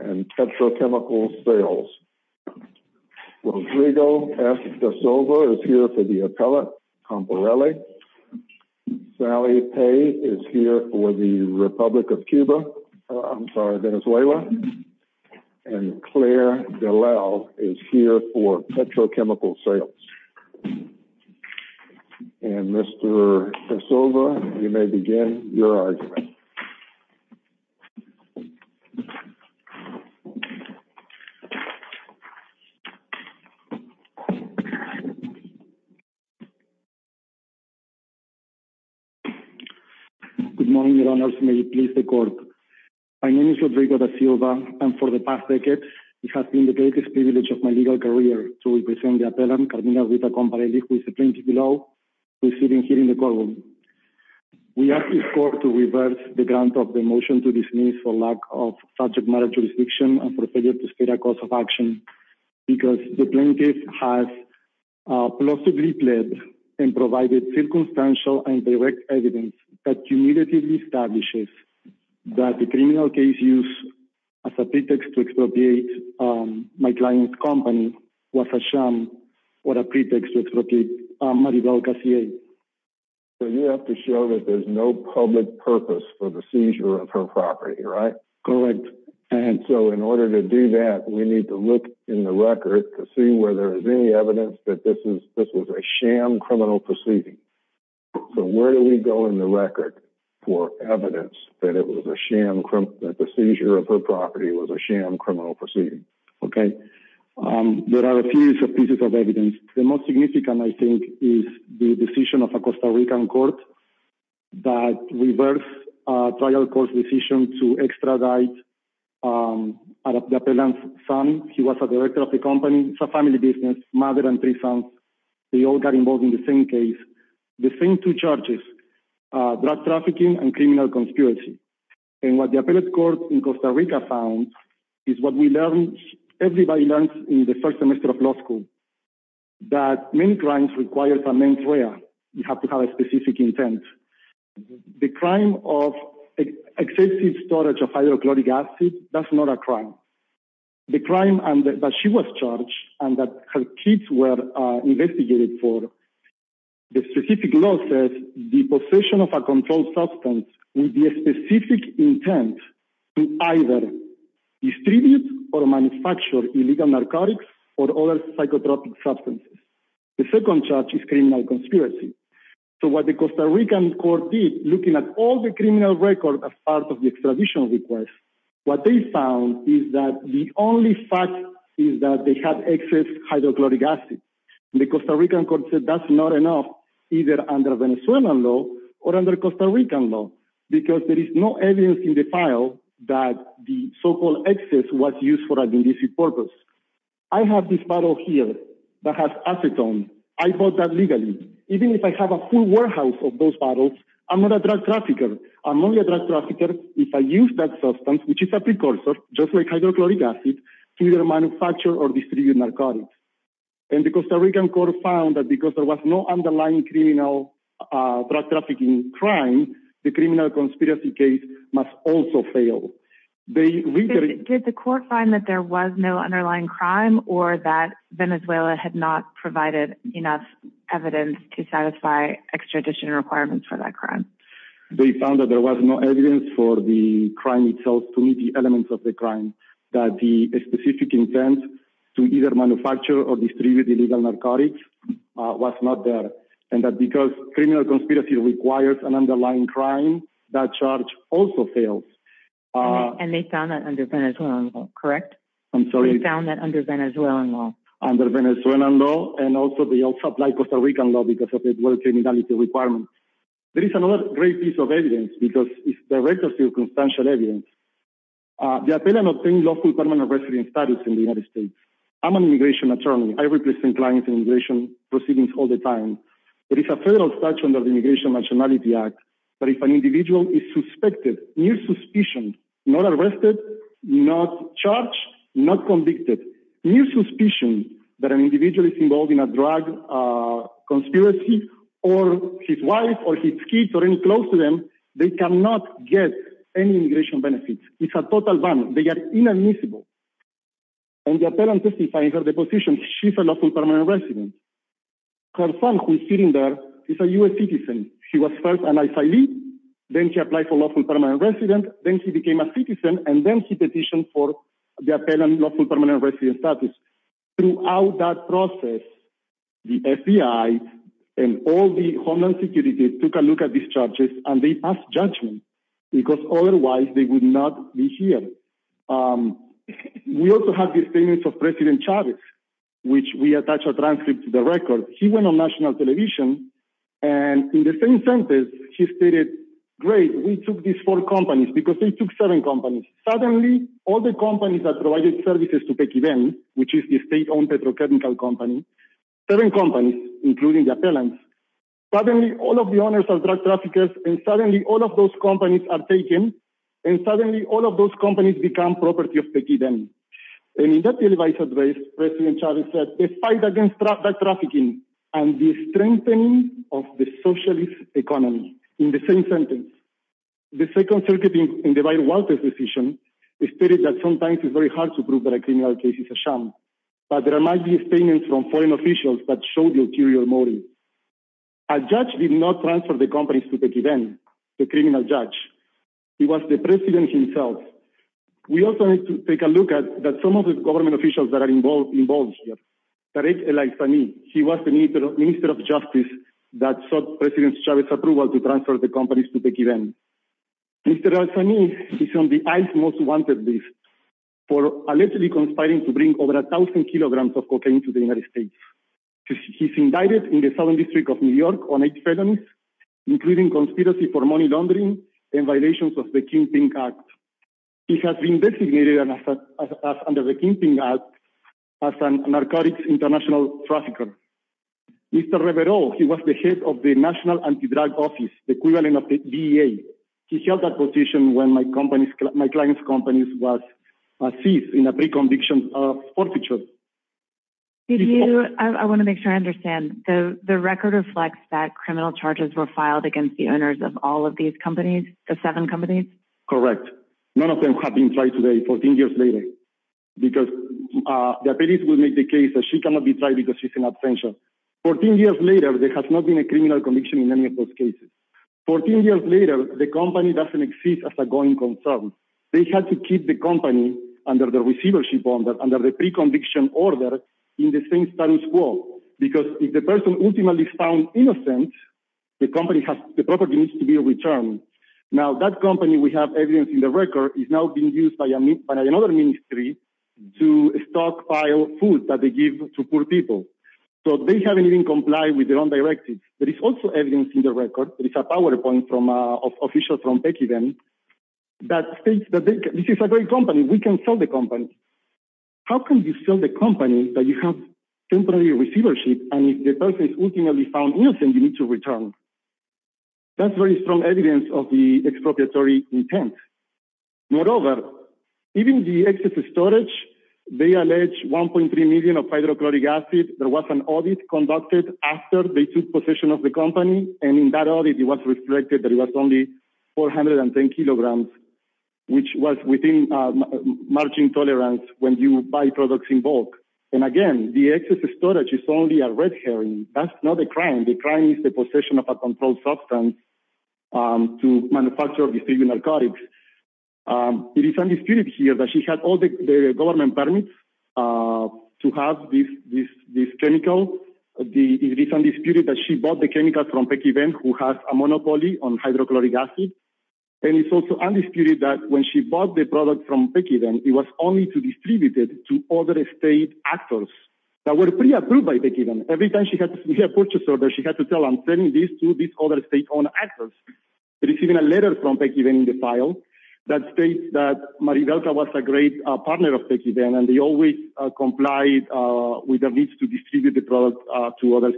and Petrochemicals Sales. Rodrigo S. Da Silva is here for the appellate Comparelli. Sally Pei is here for the Republic of Cuba, I'm sorry, Venezuela. And Claire Dallal is here for Petrochemicals Sales. And Mr. Da Silva, you may begin your argument. Good morning, Your Honors. May it please the Court. My name is Rodrigo Da Silva, and for the past decade, it has been the greatest privilege of my legal career to represent the appellant Carmina R. Comparelli, who is the plaintiff below, who is sitting here in the courtroom. We ask this Court to reverse the grant of the motion to dismiss for lack of subject matter jurisdiction and for failure to state a cause of action, because the plaintiff has plausibly pled and provided circumstantial and direct evidence that immediately establishes that the criminal case used as a pretext to expropriate my client's company was a sham or a pretext to expropriate Maribel Garcia. So you have to show that there's no public purpose for the seizure of her property, right? Correct. And so in order to do that, we need to look in the record to see whether there's any evidence that this was a sham criminal proceeding. So where do we go in the record for evidence that the seizure of her property was a sham criminal proceeding? Okay. There are a few pieces of evidence. The most significant, I think, is the decision of a Costa Rican court that reversed a trial court's decision to extradite the appellant's son. He was a director of the company. It's a family business, mother and three sons. They all got involved in the same case, the same two charges, drug trafficking and criminal conspiracy. And what the appellate court in Costa Rica found is what we learned, everybody learns in the first semester of law school, that many crimes require a main threat. You have to have a specific intent. The crime of excessive storage of hydrochloric acid, that's not a crime. The crime that she was charged and that kids were investigated for. The specific law says the possession of a controlled substance would be a specific intent to either distribute or manufacture illegal narcotics or other psychotropic substances. The second charge is criminal conspiracy. So what the Costa Rican court did, looking at all the criminal records as part of the extradition request, what they found is that the only fact is that they had excess hydrochloric acid. The Costa Rican court said that's not enough, either under Venezuelan law or under Costa Rican law, because there is no evidence in the file that the so-called excess was used for an indecent purpose. I have this bottle here that has acetone. I bought that legally. Even if I have a full warehouse of those bottles, I'm not a drug trafficker. I'm only a drug trafficker if I use that substance, which is just like hydrochloric acid, to either manufacture or distribute narcotics. The Costa Rican court found that because there was no underlying criminal drug trafficking crime, the criminal conspiracy case must also fail. Did the court find that there was no underlying crime or that Venezuela had not provided enough evidence to satisfy extradition requirements for that crime? They found that there was no evidence for the crime itself to meet the elements of the crime, that the specific intent to either manufacture or distribute illegal narcotics was not there, and that because criminal conspiracy requires an underlying crime, that charge also fails. And they found that under Venezuelan law, correct? I'm sorry? They found that under Venezuelan law. Under Venezuelan law, and also they also applied Costa Rican law because of the criminality requirements. There is another great piece of evidence because it's direct or circumstantial evidence. The appellant obtained lawful permanent residence status in the United States. I'm an immigration attorney. I represent clients in immigration proceedings all the time. There is a federal statute under the Immigration Nationality Act that if an individual is suspected, near suspicion, not arrested, not charged, not convicted, near suspicion that an individual is involved in a drug conspiracy or his wife or his kids or any close to them, they cannot get any immigration benefits. It's a total ban. They are inadmissible. And the appellant testifies of the position, she's a lawful permanent resident. Her son who is sitting there is a U.S. citizen. He was first then he applied for lawful permanent resident. Then he became a citizen and then he petitioned for the appellant lawful permanent resident status. Throughout that process, the FBI and all the Homeland Security took a look at these charges and they passed judgment because otherwise they would not be here. We also have the statements of President Chavez, which we attach a transcript to the record. He went on national television and in the same sentence, he stated, great, we took these four companies because they took seven companies. Suddenly all the companies that provided services to Pekíven, which is the state owned petrochemical company, seven companies, including the appellants, suddenly all of the owners are drug traffickers and suddenly all of those companies are taken and suddenly all of those companies become property of Pekíven. And in that televised address, President Chavez said the fight against drug trafficking and the strengthening of the socialist economy. In the same sentence, the second circuit in the Biden-Walters decision stated that sometimes it's very hard to prove that a criminal case is a sham, but there might be statements from foreign officials that show the ulterior motive. A judge did not transfer the companies to Pekíven, the criminal judge. It was the president himself. We also need to take a look at that some of the government officials that are involved here. He was the minister of justice that sought President Chavez's approval to transfer the companies to Pekíven. Mr. El-Sami is on the ICE most wanted list for allegedly conspiring to bring over a thousand kilograms of cocaine to the United States. He's indicted in the Southern District of New York on eight felonies, including conspiracy for money laundering and violations of the Kingpin Act. He has been designated under the Kingpin Act as a narcotics international trafficker. Mr. Rivero, he was the head of the National Anti-Drug Office, the equivalent of the DEA. He held that position when my client's company was seized in a pre-conviction of forfeiture. I want to make sure I understand. The record reflects that criminal charges were filed against the owners of all of these companies, the seven companies? Correct. None of them have been tried today, 14 years later, because the police will make the case that she cannot be tried because she's an absentia. 14 years later, there has not been a criminal conviction in any of those cases. 14 years later, the company doesn't exist as a going concern. They had to keep the company under the receivership order, under the pre-conviction order in the same status quo, because if the person ultimately found innocent, the property needs to be returned. Now, that company, we have evidence in the record, is now being used by another ministry to stockpile food that they give to poor people. So they haven't even complied with their own directive. There is also evidence in the record, there is a PowerPoint from an official from Pekivan, that states that this is a great company, we can sell the company. How can you sell the company that you have temporary receivership, and if the person is ultimately found innocent, you need to return? That's very strong evidence of the expropriatory intent. Moreover, even the excess storage, they allege 1.3 million of hydrochloric acid, there was an audit conducted after they took possession of the company, and in that audit, it was reflected that it was only 410 kilograms, which was within margin tolerance when you buy products in bulk. And again, the excess storage is only a red herring. That's not a crime, the crime is the possession of a controlled substance to manufacture or distribute narcotics. It is undisputed here that she had all the government permits to have this chemical. It is undisputed that she bought the chemicals from Pekivan, who has a monopoly on hydrochloric acid. And it's also undisputed that when she bought the product from Pekivan, it was only to distribute it to other state actors that were pre-approved by Pekivan. Every time she had purchase orders, she had to tell them, send these to these other state-owned actors. But it's even a letter from Pekivan in the file that states that Maribelka was a great partner of Pekivan, and they always complied with the needs to distribute the product to other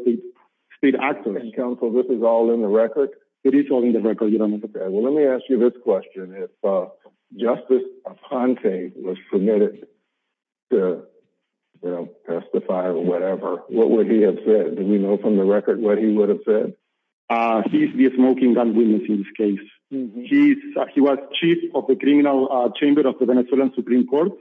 state actors. And counsel, this is all in the record? It is all in the record, Your Honor. Okay, well, let me ask you this question. If Justice Aponte was permitted to, you know, testify or whatever, what would he have said? Do we know from the record what he would have said? He's the smoking gun witness in this case. He was chief of the criminal chamber of the Venezuelan Supreme Court.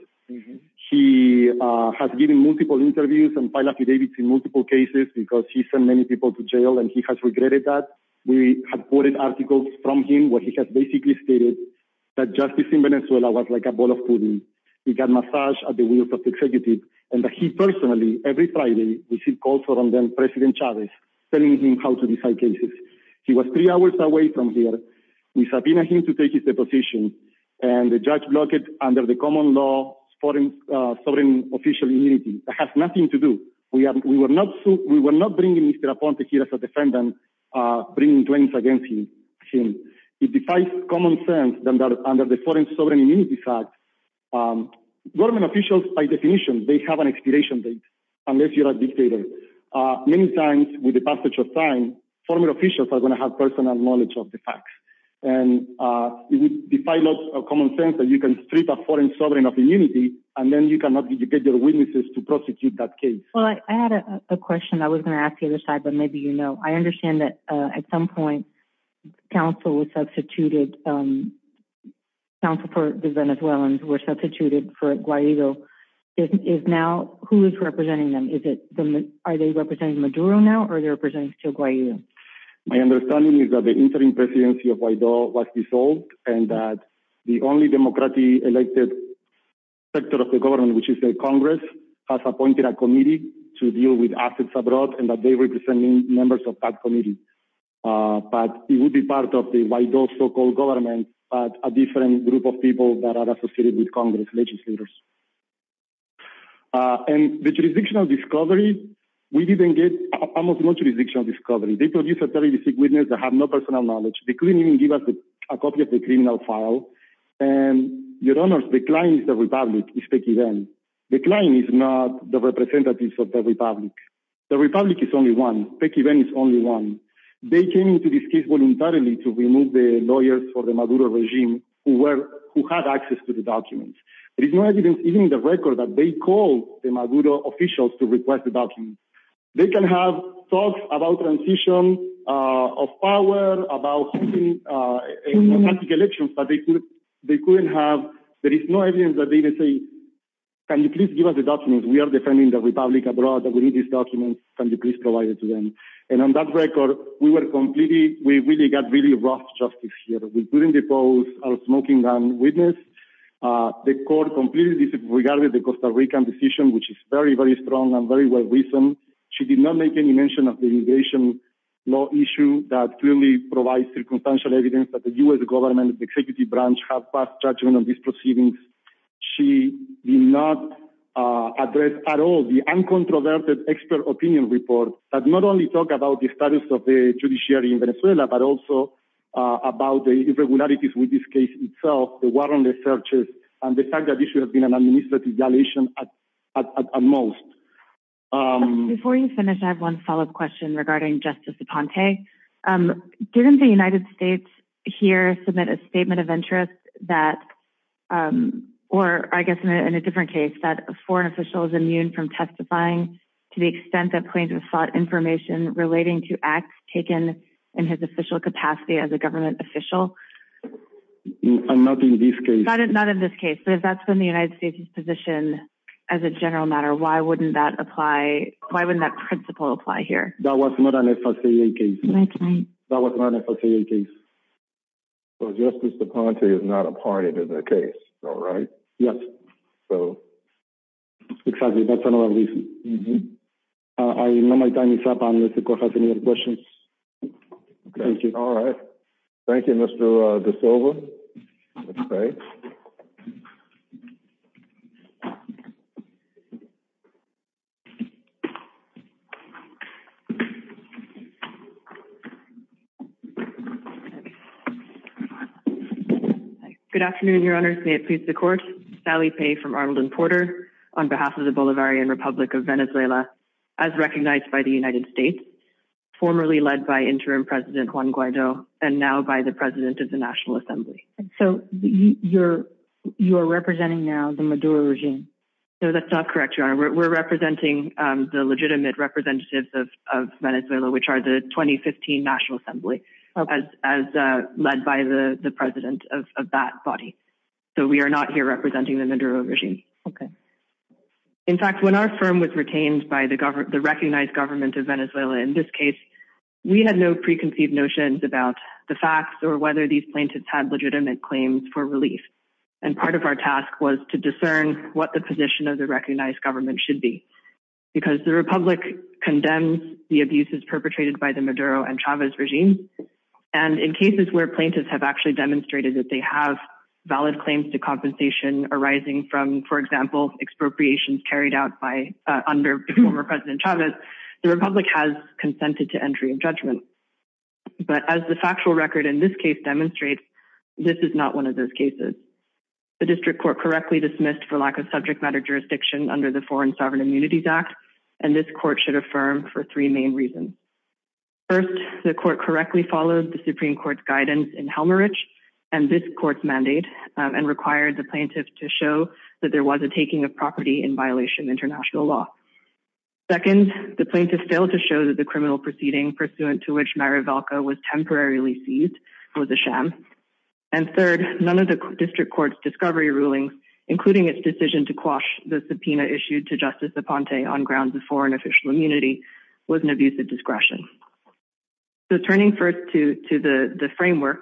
He has given multiple interviews and file affidavits in multiple cases because he sent many people to jail and he has regretted that. We have quoted articles from him where he has basically stated that justice in Venezuela was like a ball of pudding. He got massaged at the executive and that he personally, every Friday, received calls from then-President Chavez telling him how to decide cases. He was three hours away from here. We subpoenaed him to take his deposition and the judge blocked it under the common law, foreign official immunity. It has nothing to do. We were not bringing Mr. Aponte here as a defendant, bringing claims against him. It defies common sense that under the Foreign Sovereign Immunity Act, government officials, by definition, they have an expiration date unless you're a dictator. Many times, with the passage of time, former officials are going to have personal knowledge of the facts. And it would defy a lot of common sense that you can strip a foreign sovereign of immunity and then you cannot get your witnesses to prosecute that case. Well, I had a question I was going to ask the other side, but maybe you know. I understand that at some point, counsel for the Venezuelans were substituted for Guaido. Who is representing them? Are they representing Maduro now or are they representing still Guaido? My understanding is that the interim presidency of Guaido was dissolved and that the only democratically elected sector of the government, which is the Congress, has appointed a committee to deal with assets abroad and that they represent members of that committee. But it would be part of the Guaido so-called government, but a different group of people that are associated with Congress, legislators. And the jurisdictional discovery, we didn't get almost no jurisdictional discovery. They produced a 36 witnesses that have no personal knowledge. They couldn't even give us a copy of the criminal file. And your honor, the client is the Republic, is Peke Ven. The client is not the representatives of the Republic. The Republic is only one. Peke Ven is only one. They came into this case voluntarily to remove the lawyers for the Maduro regime who had access to the documents. There is no evidence, even in the record, that they called the Maduro officials to request the documents. They can have talks about transition of power, about elections, but they couldn't have, there is no evidence that they even say, can you please give us the documents? We are defending the Republic abroad that we need these documents. Can you please provide it to them? And on that record, we were completely, we really got really rough justice here. We couldn't depose our smoking gun witness. The court completely disregarded the Costa Rican decision, which is very, very strong and very well reasoned. She did not make any mention of the immigration law issue that clearly provides circumstantial evidence that the U.S. government, the executive branch have passed judgment on these proceedings. She did not address at all the uncontroverted expert opinion report that not only talk about the status of the judiciary in Venezuela, but also about the irregularities with this case itself, the warrantless searches, and the fact that this should have been an administrative violation at most. Before you finish, I have one follow-up question regarding Justice DuPonte. Didn't the United States here submit a statement of interest that, or I guess in a different case, that a foreign official is immune from testifying to the extent that plaintiff sought information relating to acts taken in his official capacity as a government official? Not in this case. Not in this case, but if that's been the United States' position as a general matter, why wouldn't that apply, why wouldn't that principle apply here? That was not an FSA case. That's right. That was not an FSA case. So Justice DuPonte is not a party to the case, is that right? Yes. So. Exactly, that's another reason. I know my time is up. I don't know if the court has any other questions. Okay, all right. Thank you, Mr. DeSilva. Okay. Thank you. Good afternoon, Your Honors. May it please the Court. Sally Pei from Arnold and Porter on behalf of the Bolivarian Republic of Venezuela, as recognized by the United States, formerly led by Interim President Juan Guaido, and now by the President of the National Assembly. So you're representing now the Maduro regime? No, that's not correct, Your Honor. We're representing the legitimate representatives of Venezuela, which are the 2015 National Assembly, as led by the President of that body. So we are not here representing the Maduro regime. Okay. In fact, when our firm was retained by the recognized government of Venezuela in this case, we had no preconceived notions about the facts or whether these plaintiffs had legitimate claims for relief. And part of our task was to discern what the position of the recognized government should be, because the Republic condemns the abuses perpetrated by the Maduro and Chavez regime. And in cases where plaintiffs have actually demonstrated that they have valid claims to compensation arising from, for example, expropriations carried out by, under former President Chavez, the Republic has consented to entry of judgment. But as the factual record in this case demonstrates, this is not one of those cases. The district court correctly dismissed for lack of subject matter jurisdiction under the Foreign Sovereign Immunities Act, and this court should affirm for three main reasons. First, the court correctly followed the Supreme Court's guidance in Helmarich and this court's mandate and required the plaintiff to show that there was a taking of property in violation of international law. Second, the plaintiff failed to show that the criminal proceeding pursuant to which Mayra Velka was temporarily seized was a sham. And third, none of the district court's discovery rulings, including its decision to quash the subpoena issued to Justice Aponte on grounds of foreign official immunity, was an abuse of discretion. So turning first to the framework,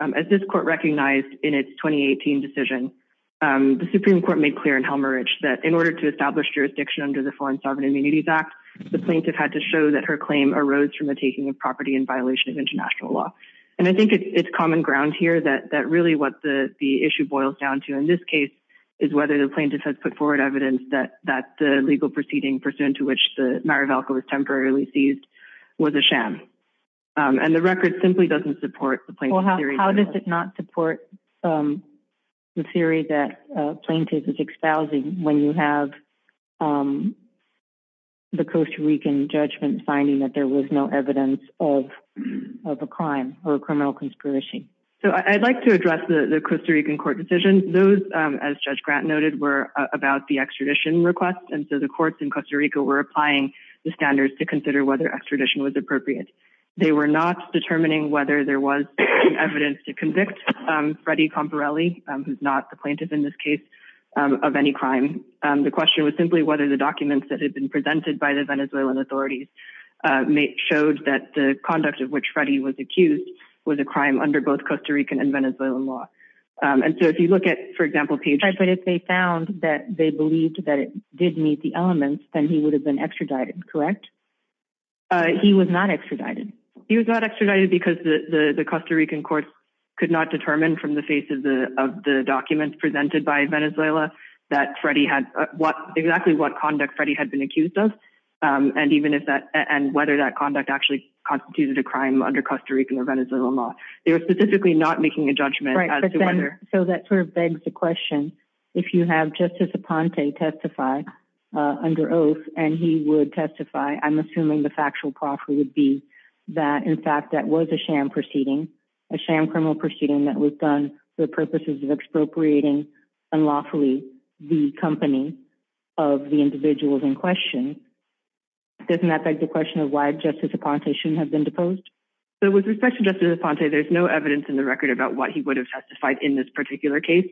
as this court recognized in its 2018 decision, the Supreme Court made clear in Helmarich that in order to establish jurisdiction under the Foreign Sovereign Immunities Act, the plaintiff had to show that her claim arose from a taking of property in violation of international law. And I think it's common ground here that really what the issue boils down to in this case is whether the plaintiff has put forward evidence that the legal proceeding pursuant to which Mayra Velka was temporarily seized was a sham. And the record simply doesn't support the plaintiff's theory. How does it not support the theory that plaintiff is espousing when you have the Costa Rican judgment finding that there was no evidence of a crime or a criminal conspiracy? So I'd like to address the Costa Rican court decision. Those, as Judge Grant noted, were about the extradition request. And so the courts in Costa Rica were applying the standards to consider whether extradition was appropriate. They were not determining whether there was evidence to convict Freddie Camporelli, who's not the plaintiff in this case, of any crime. The question was simply whether the documents that had been presented by the Venezuelan authorities showed that the conduct of which Freddie was accused was a crime under both Costa Rican and Venezuelan law. And so if you look at, for example, Page... But if they found that they believed that it did meet the elements, then he would have been extradited, correct? He was not extradited. He was not extradited because the Costa Rican courts could not determine from the face of the documents presented by Venezuela that exactly what conduct Freddie had been accused of, and whether that conduct actually constituted a crime under Costa Rican or Venezuelan law. They were specifically not making a judgment as to whether... So that sort of begs the question, if you have Justice Aponte testify under oath and he would testify, I'm assuming the factual proffer would be that, in fact, that was a sham proceeding, a sham criminal proceeding that was done for purposes of expropriating unlawfully the company of the individuals in question, doesn't that beg the question of why Justice Aponte shouldn't have been deposed? So with respect to Justice Aponte, there's no evidence in the record about what he would have testified in this particular case.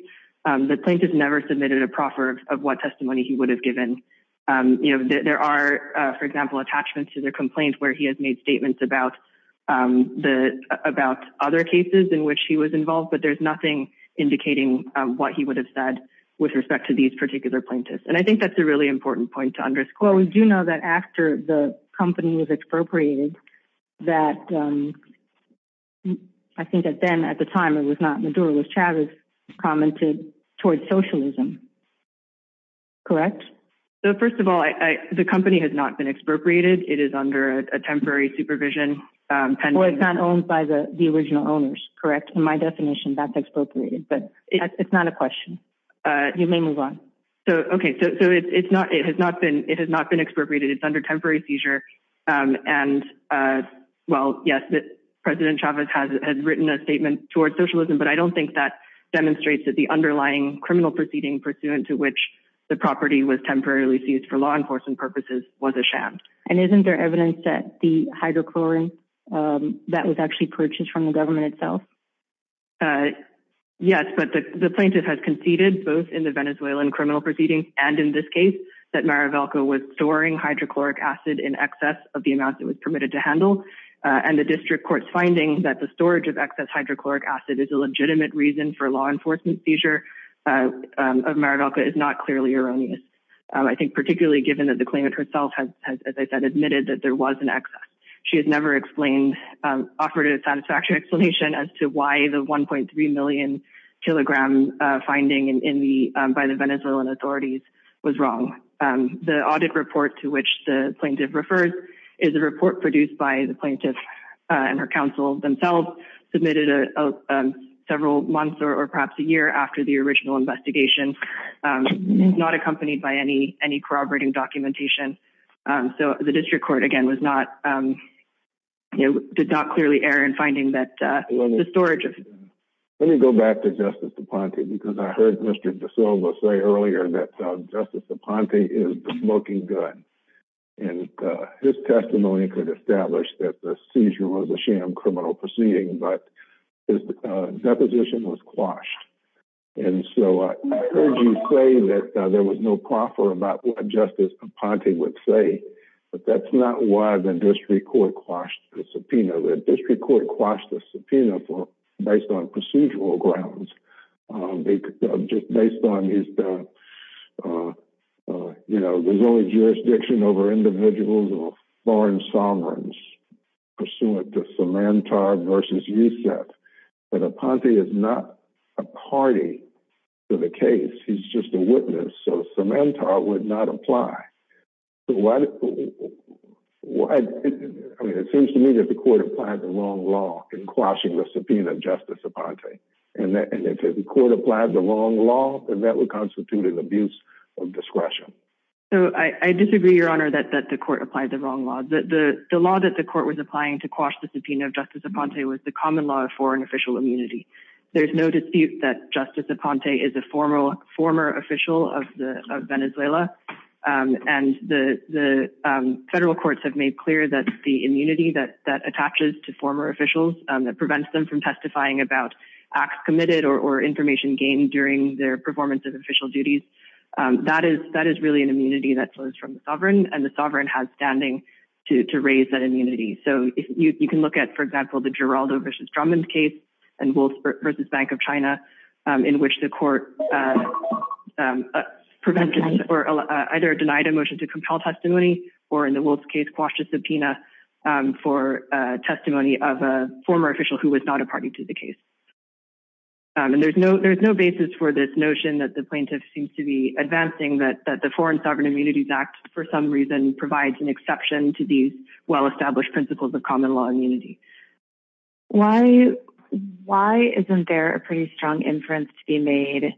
The plaintiff never submitted a proffer of what testimony he would have given. You know, there are, for example, attachments to their complaints where he has made statements about other cases in which he was involved, but there's nothing indicating what he would have said with respect to these particular plaintiffs. And I think that's a really important point to underscore. Well, we do know that after the company was expropriated, that I think that then at the time it was not Maduro, it was Chavez commented towards socialism, correct? So first of all, the company has not been expropriated. It is under a temporary supervision. Well, it's not owned by the original owners, correct? In my definition, that's expropriated, but it's not a question. You may move on. So, okay. So it has not been expropriated. It's under temporary seizure. And well, yes, President Chavez has written a statement towards socialism, but I don't think that demonstrates that the underlying criminal proceeding pursuant to which the property was temporarily seized for law enforcement purposes was a sham. And isn't there evidence that the hydrochloric that was actually purchased from the government itself? Yes, but the plaintiff has conceded both in the Venezuelan criminal proceedings and in this case that Mara Velko was storing hydrochloric acid in excess of the amount that was permitted to handle. And the district court's finding that the storage of excess hydrochloric acid is a legitimate reason for law enforcement seizure of Mara Velko is not clearly erroneous. I think particularly given that the claimant herself has, as I said, admitted that there was an excess. She has never explained, offered a satisfactory explanation as to why the 1.3 million kilogram finding by the Venezuelan authorities was wrong. The audit report to which the plaintiff refers is a report produced by the plaintiff and her counsel themselves, submitted several months or perhaps a year after the original investigation, not accompanied by any corroborating documentation. So the district court, again, did not clearly err in finding that the storage of... Let me go back to Justice DuPonte because I heard Mr. De Silva say earlier that Justice DuPonte is the smoking gun. And his testimony could establish that the seizure was a sham criminal proceeding. His deposition was quashed. And so I heard you say that there was no proffer about what Justice DuPonte would say, but that's not why the district court quashed the subpoena. The district court quashed the subpoena based on procedural grounds, just based on his... There's only jurisdiction over individuals of foreign sovereigns pursuant to Sementar versus Rousset. But DuPonte is not a party to the case. He's just a witness. So Sementar would not apply. So why... I mean, it seems to me that the court applied the wrong law in quashing the subpoena of Justice DuPonte. And if the court applied the wrong law, then that would constitute an abuse of discretion. So I disagree, Your Honor, that the court applied the wrong law. The law that the court was applying to quash the subpoena of Justice DuPonte was the common law of foreign official immunity. There's no dispute that Justice DuPonte is a former official of Venezuela. And the federal courts have made clear that the immunity that attaches to former officials, that prevents them from testifying about acts committed or information gained during their performance of official duties, that is really an immunity that flows from the sovereign. And the sovereign has standing to raise that immunity. So you can look at, for example, the Giraldo versus Drummond case and Wolf versus Bank of China, in which the court prevented or either denied a motion to compel testimony, or in the Wolf's case, quashed a subpoena for testimony of a former official who was not a party to the case. And there's no basis for this notion that the plaintiff seems to be advancing that the Foreign Sovereign Immunities Act, for some reason, provides an exception to these well-established principles of common law immunity. Why isn't there a pretty strong inference to be made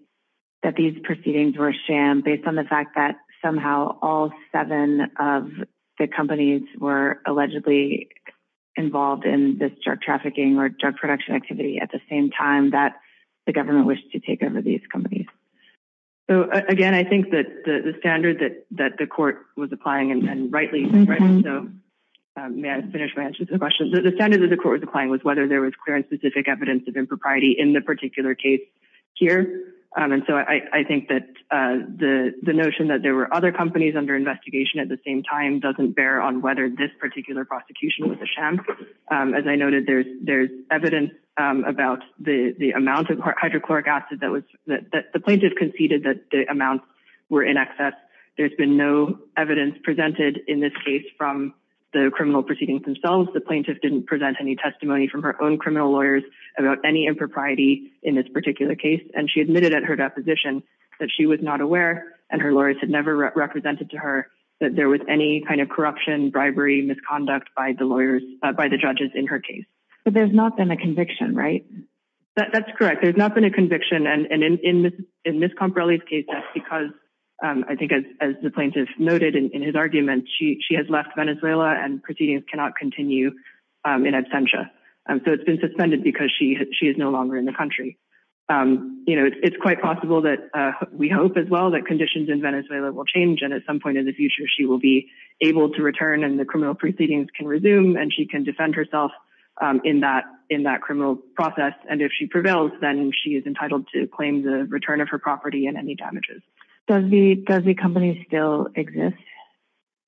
that these proceedings were a sham based on the fact that somehow all seven of the companies were allegedly involved in this drug trafficking or drug production activity at the same time that the government wished to take over these companies? So again, I think that the standard that the court was applying, and rightly so, may I finish my answer to the question? The standard that the court was applying was whether there was clear and specific evidence of impropriety in the particular case here. And so I think that the notion that there were other companies under investigation at the same time doesn't bear on whether this particular prosecution was a sham. As I noted, there's evidence about the amount of hydrochloric acid that the plaintiff conceded that the amounts were in excess. There's been no evidence presented in this case from the criminal proceedings themselves. The plaintiff didn't present any testimony from her own criminal lawyers about any impropriety in this particular case, and she admitted at her deposition that she was not aware and her lawyers had never represented to her that there was any kind of corruption, bribery, misconduct by the judges in her case. But there's not been a conviction, right? That's correct. There's not been a conviction, and in Ms. Comparelli's case, that's because, I think as the plaintiff noted in his argument, she has left Venezuela and proceedings cannot continue in absentia. So it's been suspended because she is no longer in the country. You know, it's quite possible that, we hope as well, that conditions in Venezuela will change, and at some point in the future she will be able to return and the criminal proceedings can resume and she can defend herself in that criminal process. And if she prevails, then she is entitled to claim the return of her property and any damages. Does the company still exist?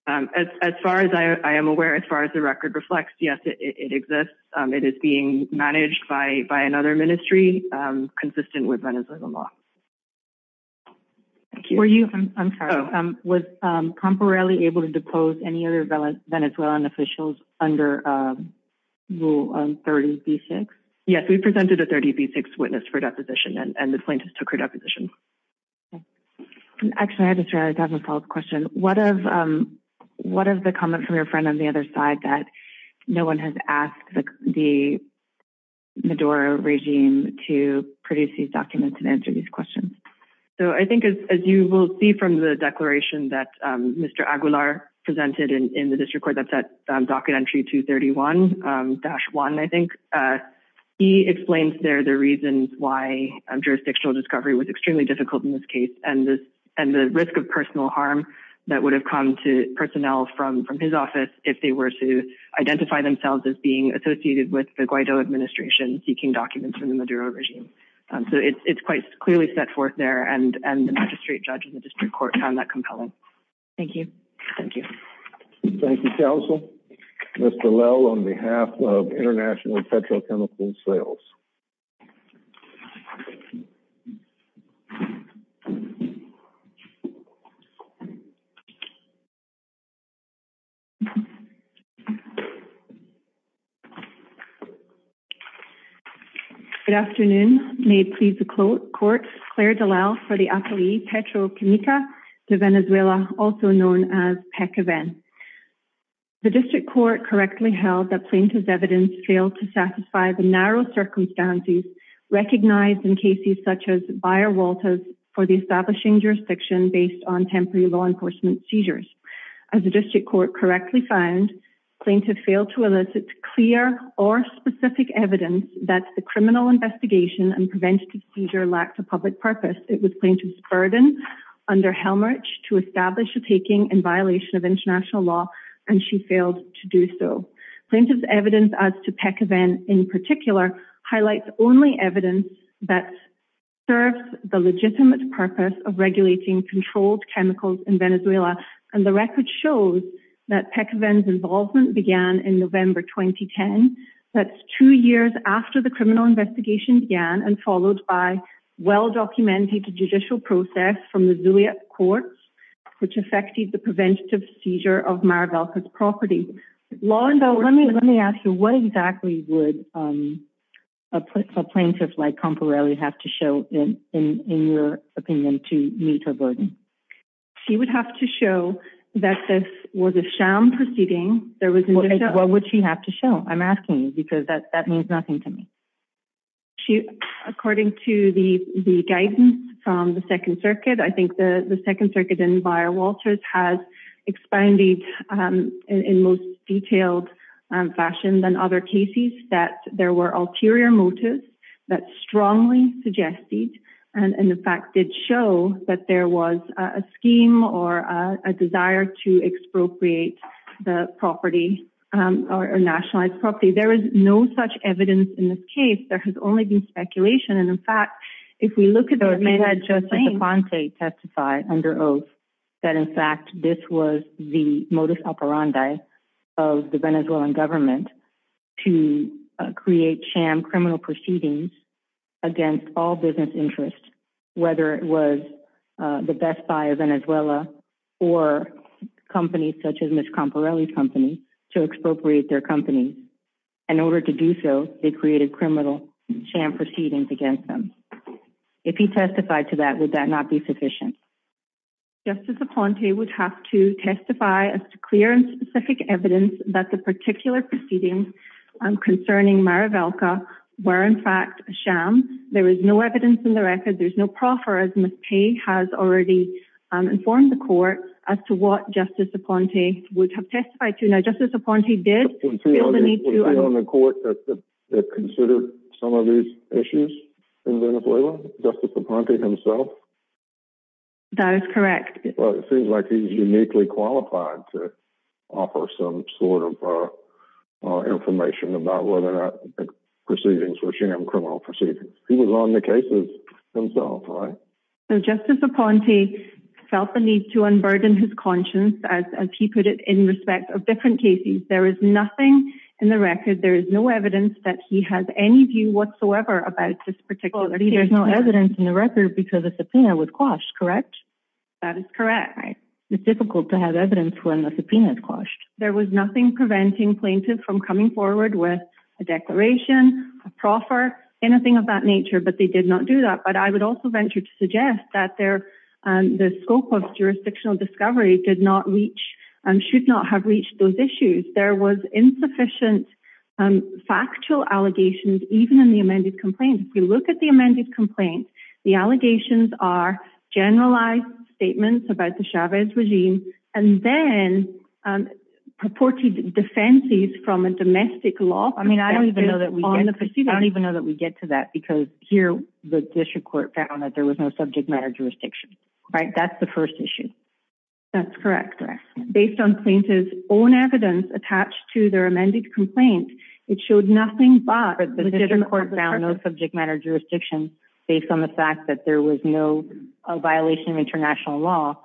As far as I am aware, as far as the record reflects, yes, it exists. It is being managed by another ministry consistent with Venezuelan law. Were you, I'm sorry, was Comparelli able to depose any other Venezuelan officials under Rule 30b-6? Yes, we presented a 30b-6 witness for deposition, and the plaintiff took her deposition. Actually, I have a follow-up question. What of the comment from your friend on the other side that no one has asked the Maduro regime to produce these documents and answer these questions? So I think as you will see from the declaration that Mr. Aguilar presented in the district court, that's at docket entry 231-1, I think, he explains there the reasons why jurisdictional discovery was extremely difficult in this case and the risk of personal harm that would have come to personnel from his office if they were to identify themselves as being associated with the Guaido administration seeking documents from the Maduro regime. So it's quite clearly set forth there, and the magistrate judge in the district court found that compelling. Thank you. Thank you. Thank you, counsel. Mr. Lowe, on behalf of International Petrochemical Sales. Thank you. Good afternoon. May it please the court. Claire Dallal for the Apoiee Petrochemical de Venezuela, also known as PECAVEN. The district court correctly held that plaintiff's evidence failed to satisfy the narrow circumstances recognized in cases such as Bayer-Walters for the establishing jurisdiction based on temporary law enforcement seizures. As the district court correctly found, plaintiff failed to elicit clear or specific evidence that the criminal investigation and preventative seizure lacked a public purpose. It was plaintiff's burden under Helmrich to establish a taking in violation of international law, and she failed to do so. Plaintiff's evidence as to PECAVEN in particular highlights only evidence that serves the legitimate purpose of regulating controlled chemicals in Venezuela, and the record shows that PECAVEN's involvement began in November 2010. That's two years after the criminal investigation began, and followed by well-documented judicial process from the Zulia courts, Lorinda, let me ask you, what exactly would a plaintiff like Camporelli have to show in your opinion to meet her burden? She would have to show that this was a sham proceeding. What would she have to show? I'm asking you because that means nothing to me. According to the guidance from the Second Circuit, I think the Second Circuit and Bayer-Walters has expounded in most detailed fashion than other cases that there were ulterior motives that strongly suggested, and in fact did show that there was a scheme or a desire to expropriate the property, or nationalized property. There is no such evidence in this case. There has only been speculation, and in fact, if we look at... DeFonte testified under oath that in fact, this was the modus operandi of the Venezuelan government to create sham criminal proceedings against all business interests, whether it was the Best Buy of Venezuela, or companies such as Ms. Camporelli's company, to expropriate their companies. In order to do so, they created criminal sham proceedings against them. If he testified to that, would that not be sufficient? Justice DeFonte would have to testify as to clear and specific evidence that the particular proceedings concerning Mara Velka were in fact a sham. There is no evidence in the record. There's no proffer as Ms. Paye has already informed the court as to what Justice DeFonte would have testified to. Now, Justice DeFonte did feel the need to... Is there anyone in the court that considered some of these issues in Venezuela? Justice DeFonte himself? That is correct. Well, it seems like he's uniquely qualified to offer some sort of information about whether or not the proceedings were sham criminal proceedings. He was on the cases himself, right? So Justice DeFonte felt the need to unburden his conscience, as he put it, in respect of different cases. There is nothing in the record. There is no evidence that he has any view whatsoever about this particular case. There's no evidence in the record because the subpoena would quash, correct? That is correct. It's difficult to have evidence when the subpoena is quashed. There was nothing preventing plaintiffs from coming forward with a declaration, a proffer, anything of that nature, but they did not do that. But I would also venture to suggest that the scope of jurisdictional discovery did not reach and should not have reached those issues. There was insufficient factual allegations, even in the amended complaint. If you look at the amended complaint, the allegations are generalized statements about the Chavez regime and then purported defenses from a domestic law. I mean, I don't even know that we get to that because here, the district court found that there was no subject matter jurisdiction, right? That's the first issue. Based on plaintiff's own evidence attached to their amended complaint, it showed nothing but the district court found no subject matter jurisdiction based on the fact that there was no violation of international law,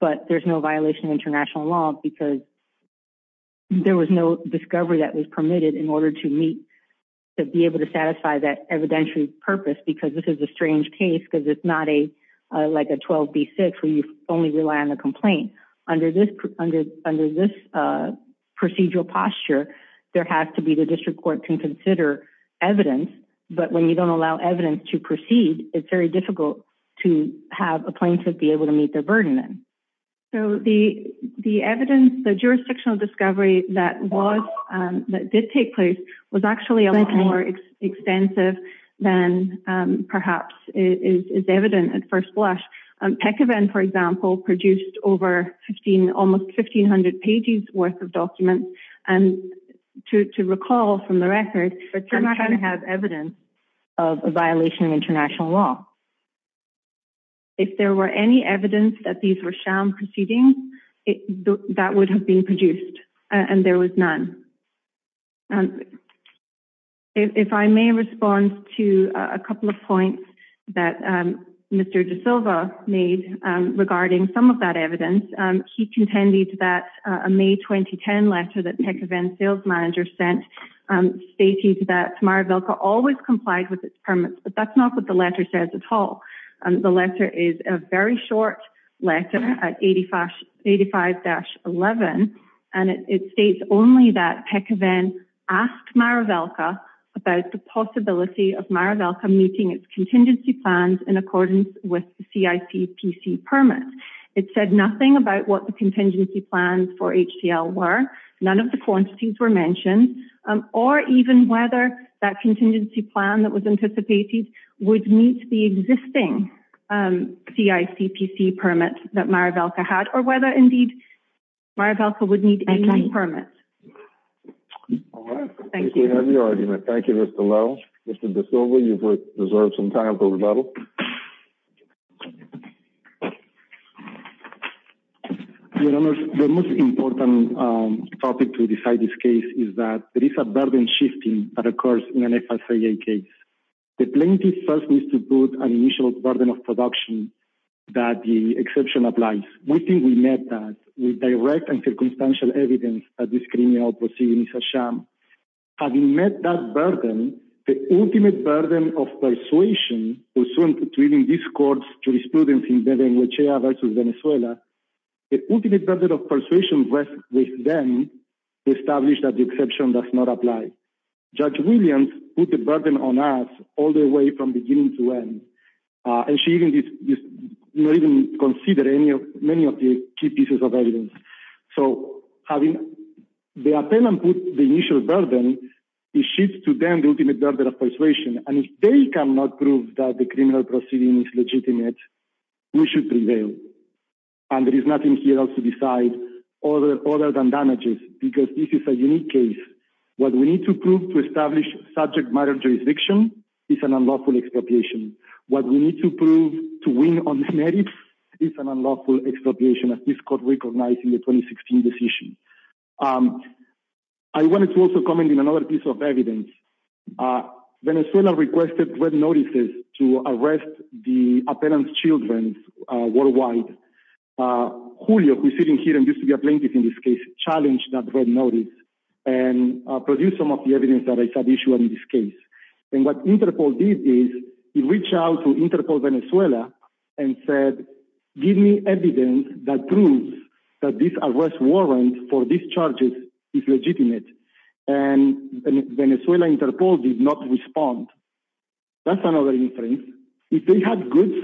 but there's no violation of international law because there was no discovery that was permitted in order to meet, to be able to satisfy that evidentiary purpose, because this is a strange case because it's not like a 12B6 where you only rely on the complaint. Under this procedural posture, there has to be the district court can consider evidence, but when you don't allow evidence to proceed, it's very difficult to have a plaintiff be able to meet their burden then. So the evidence, the jurisdictional discovery that did take place was actually a lot more extensive than perhaps is evident at first blush. Peckovan, for example, produced over 15, almost 1500 pages worth of documents and to recall from the record, but they're not trying to have evidence of a violation of international law. If there were any evidence that these were sham proceedings, that would have been produced and there was none. If I may respond to a couple of points that Mr. De Silva, made regarding some of that evidence. He contended that a May 2010 letter that Peckovan's sales manager sent stated that Maravelka always complied with its permits, but that's not what the letter says at all. The letter is a very short letter at 85-11 and it states only that Peckovan asked Maravelka about the possibility of Maravelka meeting its contingency plans in accordance with the CICPC permit. It said nothing about what the contingency plans for HTL were, none of the quantities were mentioned, or even whether that contingency plan that was anticipated would meet the existing CICPC permit that Maravelka had or whether indeed Maravelka would need any permit. All right. Thank you. We have your argument. Thank you, Mr. Low. Mr. De Silva, you've reserved some time for rebuttal. Your Honor, the most important topic to decide this case is that there is a burden shifting that occurs in an FSIA case. The plaintiff first needs to put an initial burden of production that the exception applies. We think we met that with direct and circumstantial evidence that this criminal proceeding is a sham. Having met that burden, the ultimate burden of persuasion was shown between these courts' jurisprudence in Beven-Guechea versus Venezuela. The ultimate burden of persuasion rests with them to establish that the exception does not apply. Judge Williams put the burden on us all the way from beginning to end and she didn't even consider many of the key pieces of evidence. So having the appellant put the initial burden, it shifts to them the ultimate burden of persuasion. And if they cannot prove that the criminal proceeding is legitimate, we should prevail. And there is nothing here else to decide other than damages because this is a unique case. What we need to prove to establish subject matter jurisdiction is an unlawful expropriation. What we need to prove to win on the merits is an unlawful expropriation as this court recognized in the 2016 decision. I wanted to also comment in another piece of evidence. Venezuela requested red notices to arrest the appellant's children worldwide. Julio, who's sitting here and used to be a plaintiff in this case, challenged that red notice and produced some of the evidence that I submissioned in this case. And what Interpol did is, he reached out to Interpol Venezuela and said, give me evidence that proves that this arrest warrant for these charges is legitimate. And Venezuela Interpol did not respond. That's another instance. If they had goods,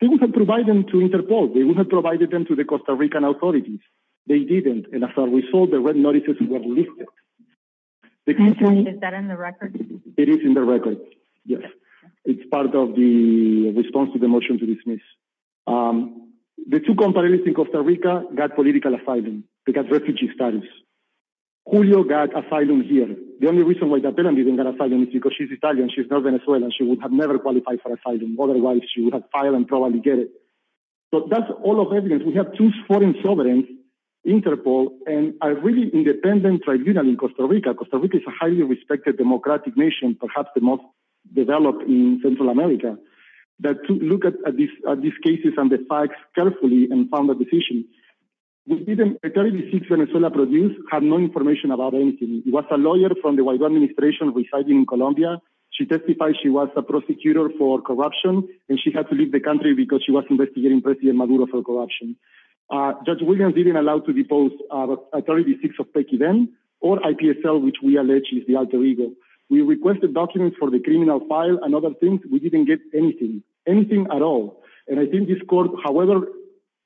they would have provided them to Interpol. They would have provided them to the Costa Rican authorities. They didn't. And as a result, the red notices were lifted. Is that in the record? It is in the record, yes. It's part of the response to the motion to dismiss. The two companies in Costa Rica got political asylum. They got refugee status. Julio got asylum here. The only reason why the appellant didn't get asylum is because she's Italian. She's not Venezuelan. She would have never qualified for asylum. Otherwise, she would have filed and probably get it. So that's all of evidence. We have two foreign sovereigns, Interpol and a really independent tribunal in Costa Rica. Costa Rica is a highly respected democratic nation, perhaps the most developed in Central America. But to look at these cases and the facts carefully and found a decision. We didn't... Attorney V6 Venezuela produced had no information about anything. It was a lawyer from the Guaidó administration residing in Colombia. She testified she was a prosecutor for corruption and she had to leave the country because she was investigating President Maduro for corruption. Judge Williams didn't allow to depose Attorney V6 of PECIDEN or IPSL, which we allege is the alter ego. We requested documents for the criminal file and other things. We didn't get anything, anything at all. And I think this court... However,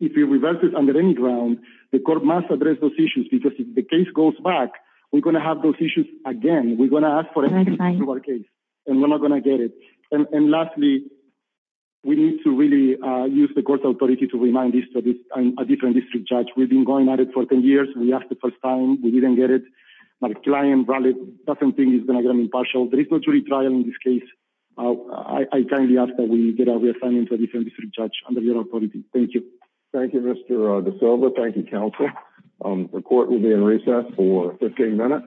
if it reverses under any ground, the court must address those issues because if the case goes back, we're going to have those issues again. We're going to ask for a case and we're not going to get it. And lastly, we need to really use the court's authority to remind a different district judge. We've been going at it for 10 years. We asked the first time. We didn't get it. My client doesn't think he's going to get an impartial. There is no jury trial in this case. I kindly ask that we get our refund into a different district judge under your authority. Thank you. Thank you, Mr. De Silva. Thank you, counsel. The court will be in recess for 15 minutes.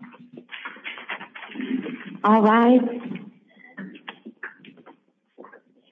All right.